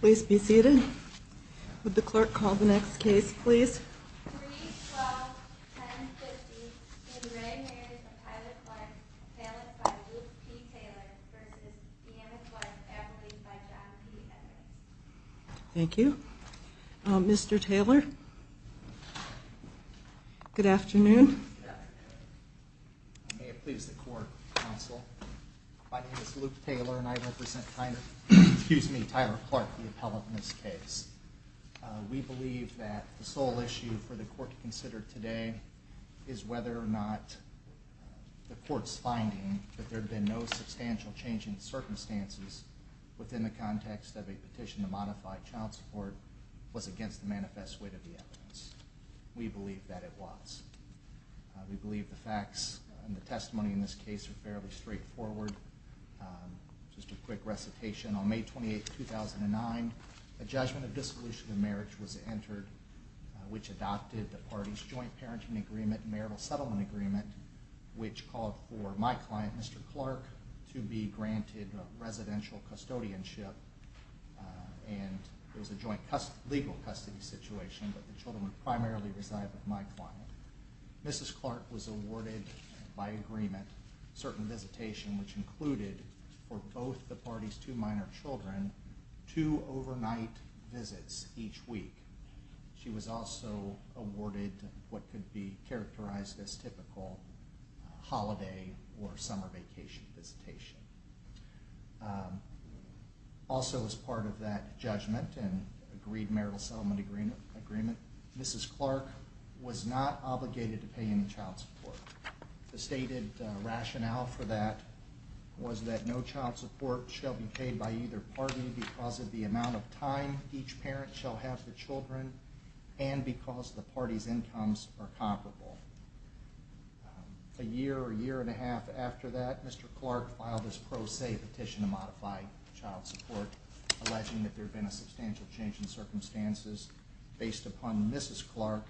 Please be seated. Would the clerk call the next case, please? Thank you. Mr Taylor. Good afternoon. May it please the court, counsel. My name is Luke Taylor and I represent Tyler Clark, the appellate in this case. We believe that the sole issue for the court to consider today is whether or not the court's finding that there had been no substantial change in circumstances within the context of a petition to modify child support was against the manifest weight of the evidence. We believe that it was. We believe the facts and the testimony in this case are fairly straightforward. Just a quick recitation. On May 28, 2009, a judgment of dissolution of marriage was entered, which adopted the party's joint parenting agreement and marital settlement agreement, which called for my client, Mr Clark, to be granted residential custodianship. And there was a joint legal custody situation, but the children would primarily reside with my client. Mrs Clark was awarded by agreement certain visitation, which included for both the party's two minor children to overnight visits each week. She was also awarded what could be characterized as typical holiday or summer vacation visitation. Also as part of that judgment and agreed marital settlement agreement, Mrs Clark was not obligated to pay any child support. The stated rationale for that was that no child support shall be paid by either party because of the amount of time each parent shall have the children and because the party's incomes are comparable. A year or a year and a half after that, Mr Clark filed his pro se petition to modify child support, alleging that there had been a substantial change in circumstances based upon Mrs Clark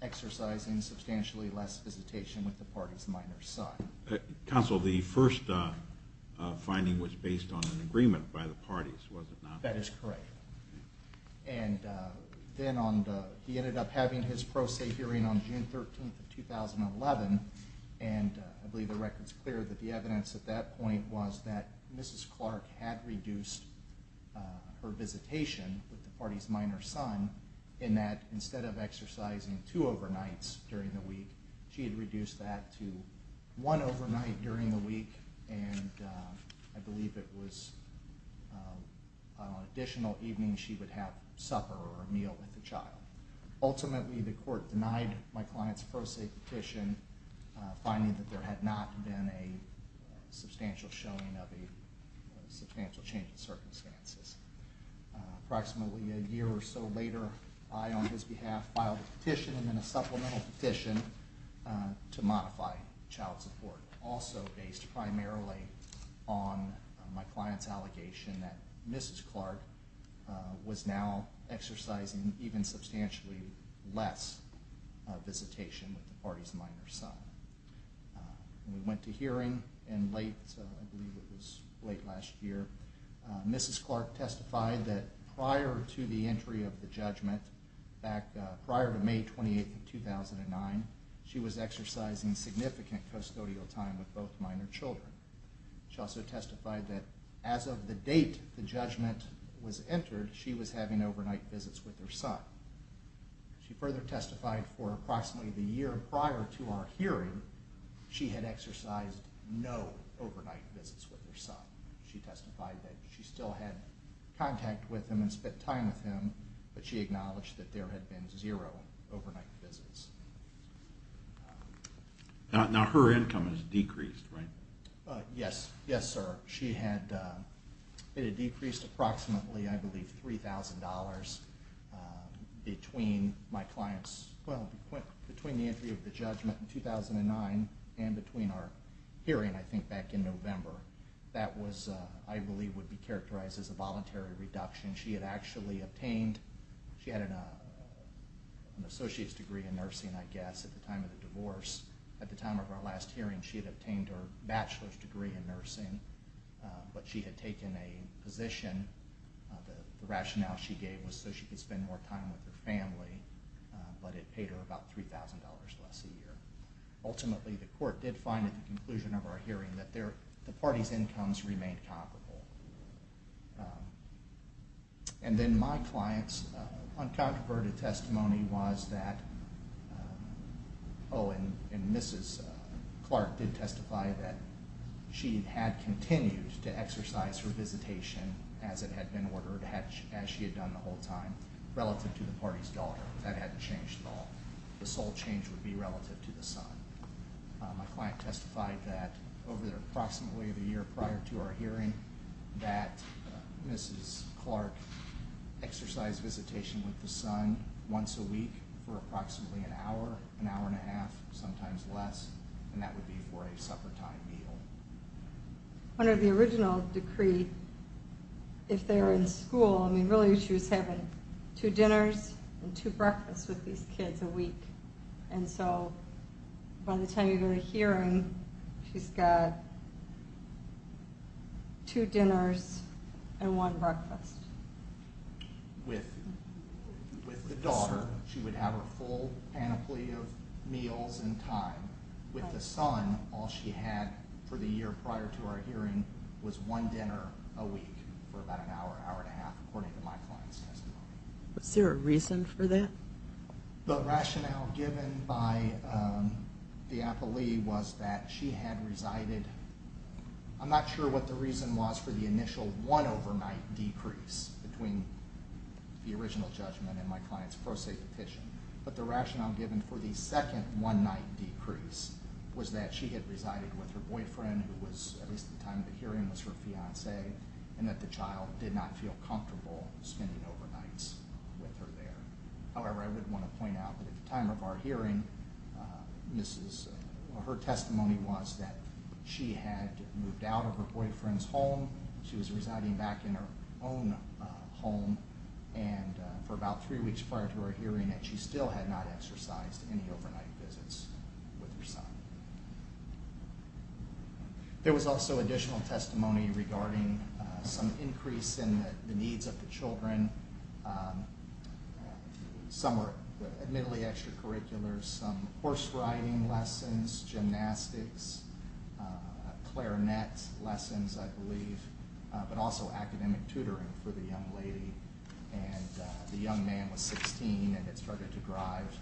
exercising substantially less visitation with the party's minor son. Counsel, the first finding was based on an agreement by the parties, was it not? That is correct. And then he ended up having his pro se hearing on June 13, 2011, and I believe the record is clear that the evidence at that point was that Mrs Clark had reduced her visitation with the party's minor son in that instead of exercising two overnights during the week, she had reduced that to one overnight during the week and I believe it was an additional evening she would have supper or a meal with the child. Ultimately, the court denied my client's pro se petition, finding that there had not been a substantial showing of a substantial change in circumstances. Approximately a year or so later, I on his behalf filed a petition and then a supplemental petition to modify child support, also based primarily on my client's allegation that Mrs Clark was now exercising even substantially less visitation with the party's minor son. We went to hearing in late, I believe it was late last year. Mrs Clark testified that prior to the entry of the judgment, prior to May 28, 2009, she was exercising significant custodial time with both minor children. She also testified that as of the date the judgment was entered, she was having overnight visits with her son. She further testified for approximately the year prior to our hearing, she had exercised no overnight visits with her son. She testified that she still had contact with him and spent time with him, but she acknowledged that there had been zero overnight visits. Now her income has decreased, right? Yes, yes sir. She had, it had decreased approximately I believe $3,000 between my client's, well between the entry of the judgment in 2009 and between our hearing I think back in November. That was, I believe would be characterized as a voluntary reduction. She had actually obtained, she had an associate's degree in nursing I guess at the time of the divorce. At the time of our last hearing she had obtained her bachelor's degree in nursing, but she had taken a position, the rationale she gave was so she could spend more time with her family, but it paid her about $3,000 less a year. Ultimately the court did find at the conclusion of our hearing that the parties' incomes remained comparable. And then my client's uncontroverted testimony was that, oh and Mrs. Clark did testify that she had continued to exercise her visitation as it had been ordered, as she had done the whole time, relative to the parties' daughter. That hadn't changed at all. The sole change would be relative to the son. My client testified that over approximately the year prior to our hearing that Mrs. Clark exercised visitation with the son once a week for approximately an hour, an hour and a half, sometimes less, and that would be for a suppertime meal. Under the original decree, if they were in school, I mean really she was having two dinners and two breakfasts with these kids a week. And so by the time you go to hearing, she's got two dinners and one breakfast. With the daughter, she would have her full panoply of meals in time. With the son, all she had for the year prior to our hearing was one dinner a week for about an hour, an hour and a half, according to my client's testimony. Was there a reason for that? The rationale given by the appellee was that she had resided, I'm not sure what the reason was for the initial one overnight decrease between the original judgment and my client's pro se petition, but the rationale given for the second one night decrease was that she had resided with her boyfriend, who at least at the time of the hearing was her fiancé, and that the child did not feel comfortable spending overnights with her there. However, I would want to point out that at the time of our hearing, her testimony was that she had moved out of her boyfriend's home, she was residing back in her own home, and for about three weeks prior to our hearing that she still had not exercised any overnight visits with her son. There was also additional testimony regarding some increase in the needs of the children. Some were admittedly extracurriculars, some horse riding lessons, gymnastics, clarinet lessons I believe, but also academic tutoring for the young lady, and the young man was 16 and had started to thrive.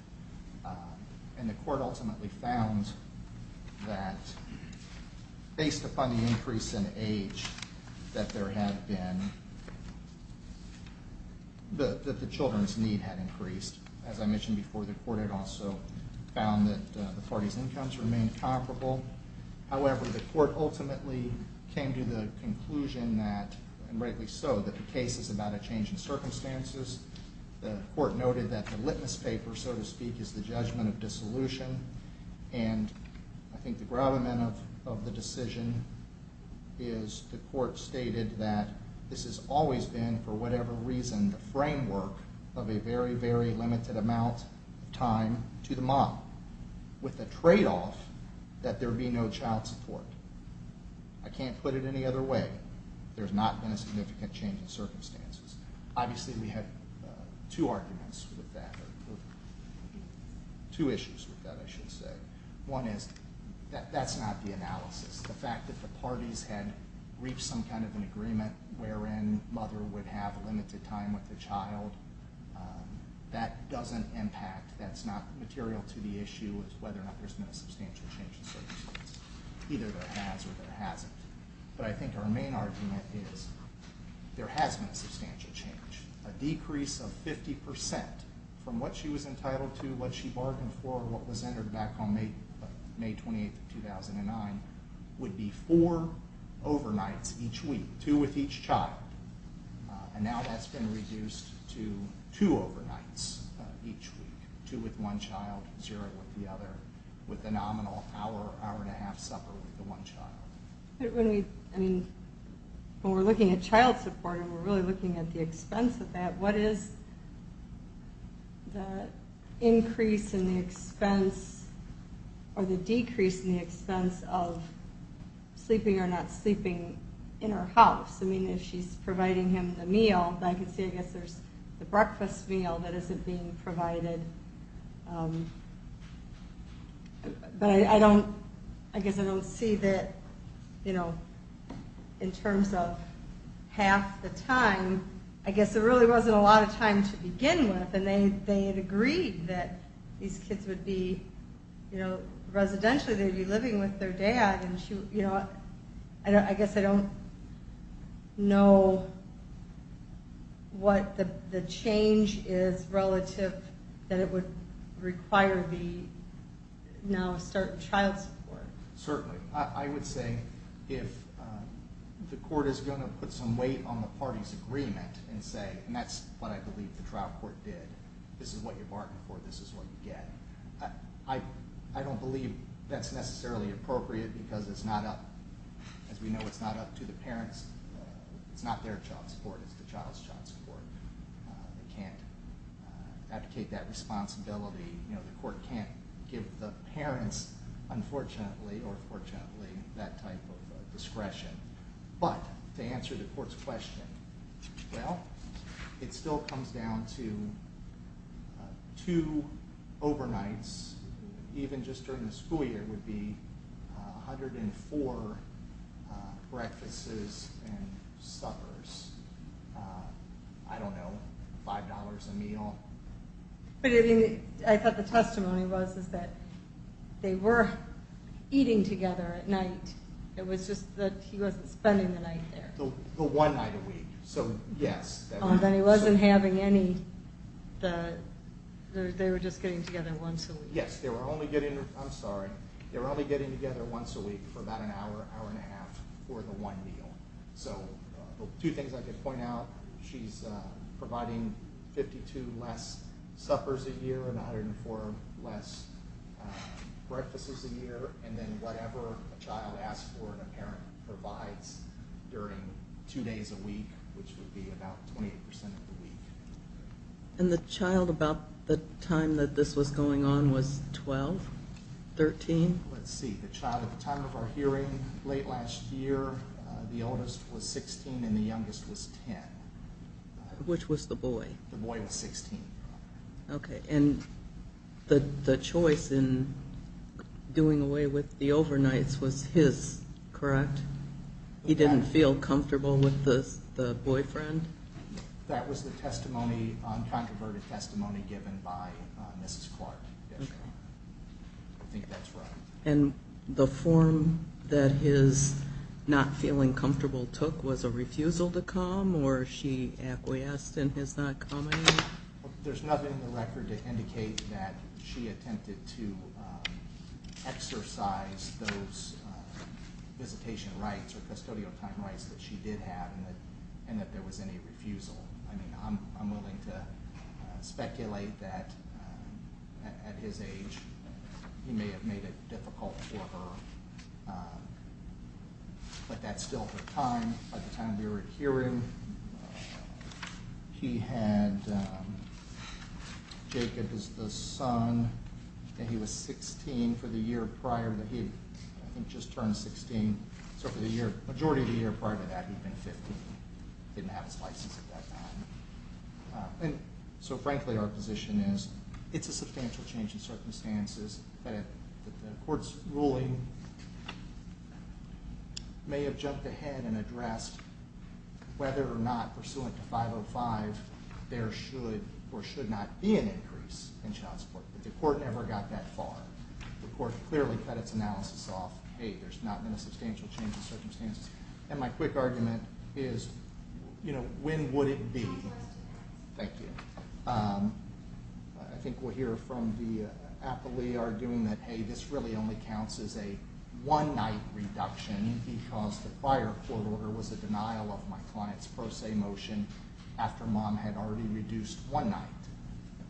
And the court ultimately found that based upon the increase in age that there had been, that the children's need had increased. As I mentioned before, the court had also found that the parties' incomes remained comparable. However, the court ultimately came to the conclusion that, and rightly so, that the case is about a change in circumstances. The court noted that the litmus paper, so to speak, is the judgment of dissolution, and I think the gravamen of the decision is the court stated that this has always been, for whatever reason, the framework of a very, very limited amount of time to the mom, with the tradeoff that there be no child support. I can't put it any other way. There's not been a significant change in circumstances. Obviously we had two arguments with that, or two issues with that I should say. One is that that's not the analysis. The fact that the parties had reached some kind of an agreement wherein mother would have limited time with the child, that doesn't impact, that's not material to the issue of whether or not there's been a substantial change in circumstances. Either there has or there hasn't. But I think our main argument is there has been a substantial change. A decrease of 50 percent from what she was entitled to, what she bargained for, what was entered back on May 28, 2009, would be four overnights each week, two with each child. And now that's been reduced to two overnights each week, two with one child, zero with the other, with the nominal hour, hour and a half supper with the one child. When we're looking at child support and we're really looking at the expense of that, what is the increase in the expense or the decrease in the expense of sleeping or not sleeping in her house? I mean, if she's providing him the meal, I can see, I guess, there's the breakfast meal that isn't being provided. But I don't, I guess I don't see that, you know, in terms of half the time, I guess there really wasn't a lot of time to begin with, and they had agreed that these kids would be, you know, residentially they'd be living with their dad, and she, you know, I guess I don't know what the change is relative that it would require the now child support. Certainly. I would say if the court is going to put some weight on the party's agreement and say, and that's what I believe the trial court did, this is what you bargained for, this is what you get. I don't believe that's necessarily appropriate because it's not up, as we know, it's not up to the parents. It's not their child support, it's the child's child support. They can't advocate that responsibility. You know, the court can't give the parents, unfortunately or fortunately, that type of discretion. But to answer the court's question, well, it still comes down to two overnights, even just during the school year would be 104 breakfasts and suppers. I don't know, $5 a meal. But I thought the testimony was that they were eating together at night. It was just that he wasn't spending the night there. The one night a week, so yes. Then he wasn't having any, they were just getting together once a week. Yes, they were only getting, I'm sorry, they were only getting together once a week for about an hour, hour and a half for the one meal. So two things I could point out, she's providing 52 less suppers a year and 104 less breakfasts a year, and then whatever a child asks for and a parent provides during two days a week, which would be about 28% of the week. And the child about the time that this was going on was 12, 13? Let's see, the child at the time of our hearing late last year, the oldest was 16 and the youngest was 10. Which was the boy? The boy was 16. Okay, and the choice in doing away with the overnights was his, correct? He didn't feel comfortable with the boyfriend? That was the testimony, controverted testimony given by Mrs. Clark. I think that's right. And the form that his not feeling comfortable took was a refusal to come or she acquiesced in his not coming? There's nothing in the record to indicate that she attempted to exercise those visitation rights or custodial time rights that she did have and that there was any refusal. I mean, I'm willing to speculate that at his age he may have made it difficult for her, but that's still the time. By the time we were hearing, he had Jacob as the son, and he was 16 for the year prior. I think just turned 16, so for the majority of the year prior to that, he'd been 15. Didn't have his license at that time. And so, frankly, our position is it's a substantial change in circumstances, but the court's ruling may have jumped ahead and addressed whether or not, pursuant to 505, there should or should not be an increase in child support, but the court never got that far. The court clearly cut its analysis off. Hey, there's not been a substantial change in circumstances. And my quick argument is, you know, when would it be? Thank you. I think we'll hear from the appellee arguing that, hey, this really only counts as a one-night reduction because the prior court order was a denial of my client's pro se motion after mom had already reduced one night.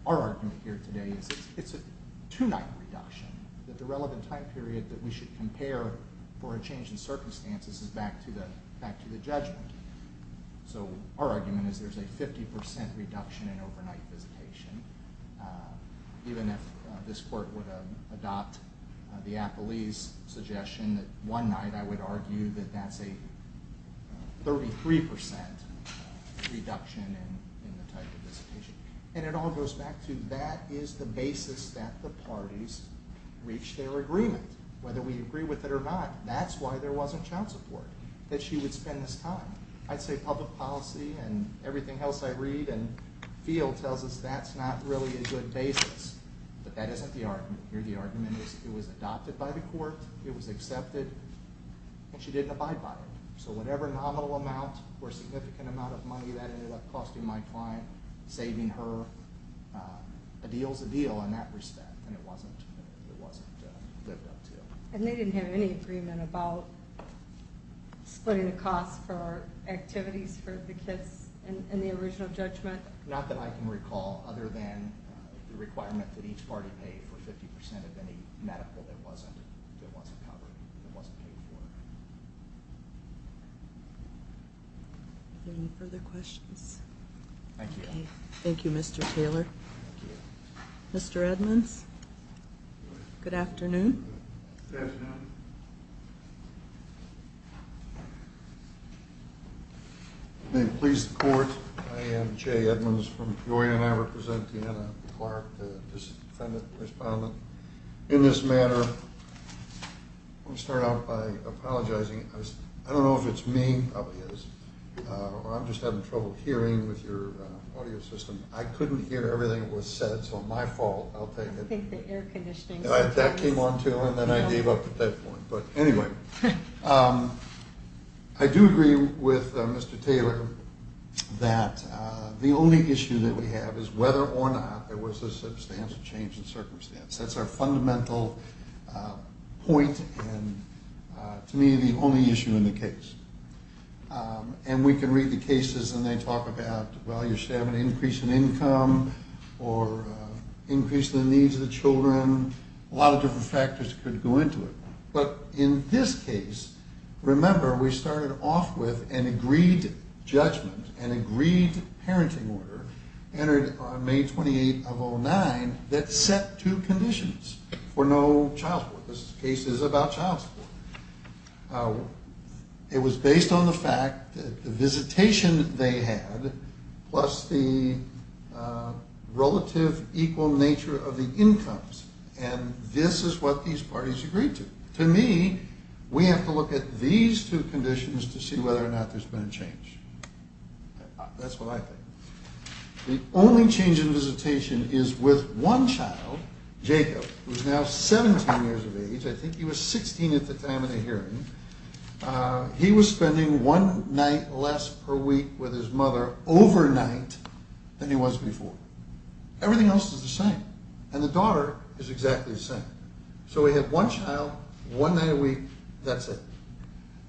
Our argument here today is it's a two-night reduction, that the relevant time period that we should compare for a change in circumstances is back to the judgment. So our argument is there's a 50% reduction in overnight visitation, even if this court would adopt the appellee's suggestion that one night, I would argue that that's a 33% reduction in the type of visitation. And it all goes back to that is the basis that the parties reach their agreement. Whether we agree with it or not, that's why there wasn't child support, that she would spend this time. I'd say public policy and everything else I read and feel tells us that's not really a good basis, but that isn't the argument here. The argument is it was adopted by the court, it was accepted, and she didn't abide by it. So whatever nominal amount or significant amount of money that ended up costing my client, saving her a deal's a deal in that respect, and it wasn't lived up to. And they didn't have any agreement about splitting the costs for activities for the kids in the original judgment? Not that I can recall, other than the requirement that each party pay for 50% of any medical that wasn't covered, that wasn't paid for. Are there any further questions? Thank you. Thank you, Mr. Taylor. Mr. Edmonds, good afternoon. Good afternoon. May it please the Court, I am Jay Edmonds from Peoria, and I represent Deanna Clark, the defendant, the respondent. In this matter, I'll start out by apologizing. I don't know if it's me, probably is, or I'm just having trouble hearing with your audio system. I couldn't hear everything that was said, so my fault. I think the air conditioning. That came on, too, and then I gave up at that point. But anyway, I do agree with Mr. Taylor that the only issue that we have is whether or not there was a substantial change in circumstance. That's our fundamental point and, to me, the only issue in the case. And we can read the cases and they talk about, well, you should have an increase in income or increase in the needs of the children. A lot of different factors could go into it. But in this case, remember, we started off with an agreed judgment, an agreed parenting order, entered on May 28 of 2009, that set two conditions for no child support. This case is about child support. It was based on the fact that the visitation they had plus the relative equal nature of the incomes, and this is what these parties agreed to. To me, we have to look at these two conditions to see whether or not there's been a change. That's what I think. The only change in visitation is with one child, Jacob, who is now 17 years of age. I think he was 16 at the time of the hearing. He was spending one night less per week with his mother overnight than he was before. Everything else is the same. And the daughter is exactly the same. So we have one child, one night a week, that's it.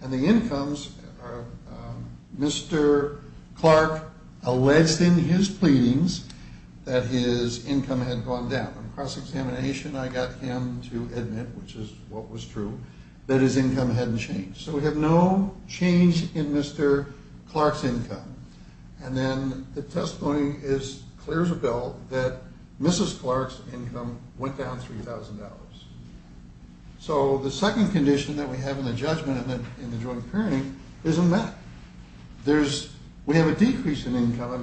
And the incomes, Mr. Clark alleged in his pleadings that his income had gone down. On cross-examination, I got him to admit, which is what was true, that his income hadn't changed. So we have no change in Mr. Clark's income. And then the testimony clears the bill that Mrs. Clark's income went down $3,000. So the second condition that we have in the judgment in the joint parenting isn't that. We have a decrease in income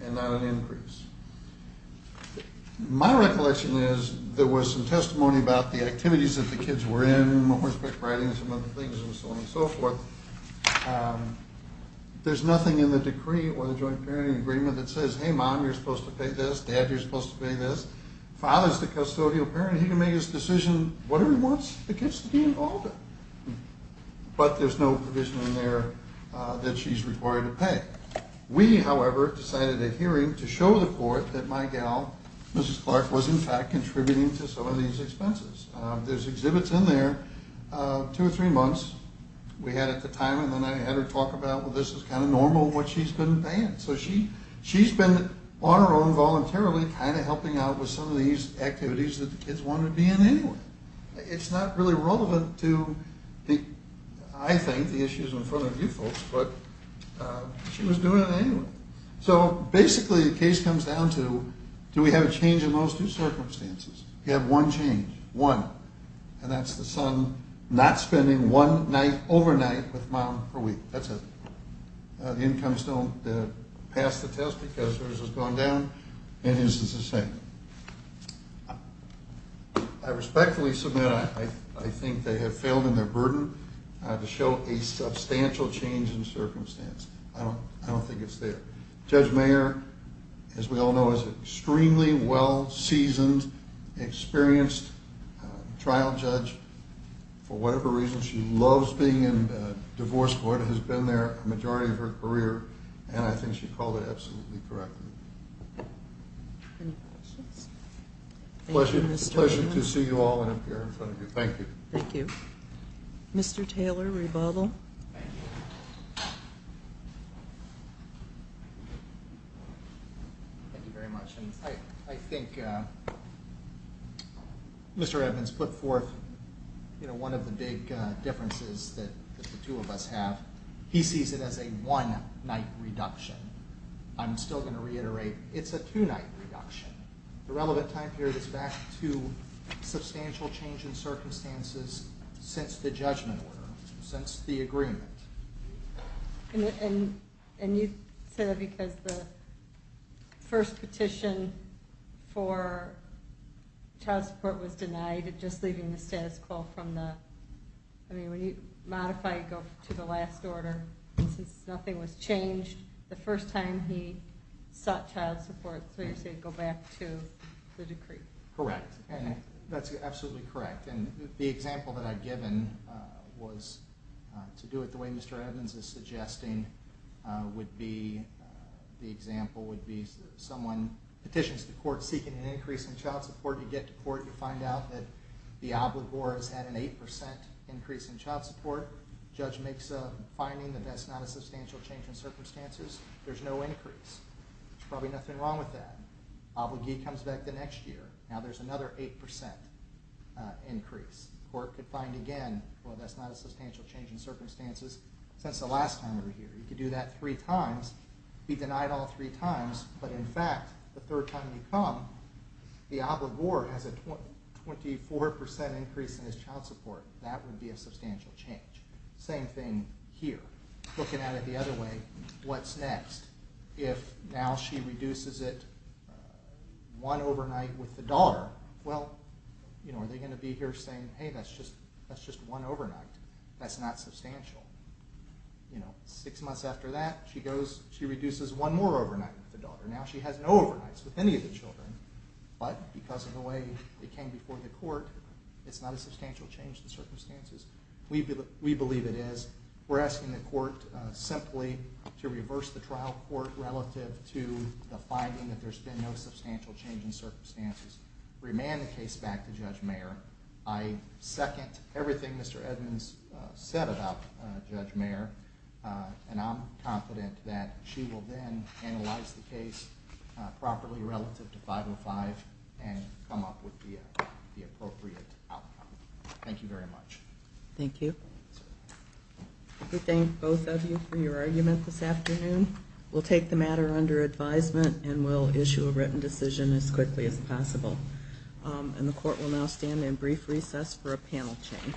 and not an increase. My recollection is there was some testimony about the activities that the kids were in, horseback riding and some other things and so on and so forth. There's nothing in the decree or the joint parenting agreement that says, hey, mom, you're supposed to pay this, dad, you're supposed to pay this. Father's the custodial parent. He can make his decision whatever he wants the kids to be involved in. We, however, decided at hearing to show the court that my gal, Mrs. Clark, was in fact contributing to some of these expenses. There's exhibits in there, two or three months we had at the time, and then I had her talk about, well, this is kind of normal what she's been paying. So she's been on her own voluntarily kind of helping out with some of these activities that the kids wanted to be in anyway. It's not really relevant to, I think, the issues in front of you folks, but she was doing it anyway. So basically the case comes down to do we have a change in those two circumstances? We have one change, one, and that's the son not spending one night overnight with mom per week. That's it. The incomes don't pass the test because hers has gone down and his is the same. I respectfully submit I think they have failed in their burden to show a substantial change in circumstance. I don't think it's there. Judge Mayer, as we all know, is an extremely well-seasoned, experienced trial judge. For whatever reason, she loves being in divorce court, has been there a majority of her career, and I think she called it absolutely correct. Any questions? Pleasure to see you all and appear in front of you. Thank you. Thank you. Mr. Taylor, rebuttal. Thank you very much. I think Mr. Evans put forth one of the big differences that the two of us have. He sees it as a one-night reduction. I'm still going to reiterate, it's a two-night reduction. The relevant time period is back to substantial change in circumstances since the judgment order, since the agreement. And you say that because the first petition for trial support was denied, just leaving the status quo. When you modify, you go to the last order. Since nothing was changed, the first time he sought child support, so you're saying go back to the decree. Correct. That's absolutely correct. The example that I've given was to do it the way Mr. Evans is suggesting would be the example would be someone petitions the court seeking an increase in child support. You get to court. You find out that the obligor has had an 8% increase in child support. Judge makes a finding that that's not a substantial change in circumstances. There's no increase. There's probably nothing wrong with that. Obligee comes back the next year. Now there's another 8% increase. Court could find again, well, that's not a substantial change in circumstances since the last time we were here. You could do that three times, be denied all three times, but, in fact, the third time you come, the obligor has a 24% increase in his child support. That would be a substantial change. Same thing here. Looking at it the other way, what's next? If now she reduces it one overnight with the daughter, well, are they going to be here saying, hey, that's just one overnight. That's not substantial. Six months after that, she reduces one more overnight with the daughter. Now she has no overnights with any of the children, but because of the way it came before the court, it's not a substantial change in circumstances. We believe it is. We're asking the court simply to reverse the trial court relative to the finding that there's been no substantial change in circumstances. Remand the case back to Judge Mayer. I second everything Mr. Edmonds said about Judge Mayer, and I'm confident that she will then analyze the case properly relative to 505 and come up with the appropriate outcome. Thank you very much. Thank you. We thank both of you for your argument this afternoon. We'll take the matter under advisement and we'll issue a written decision as quickly as possible. And the court will now stand in brief recess for a panel change.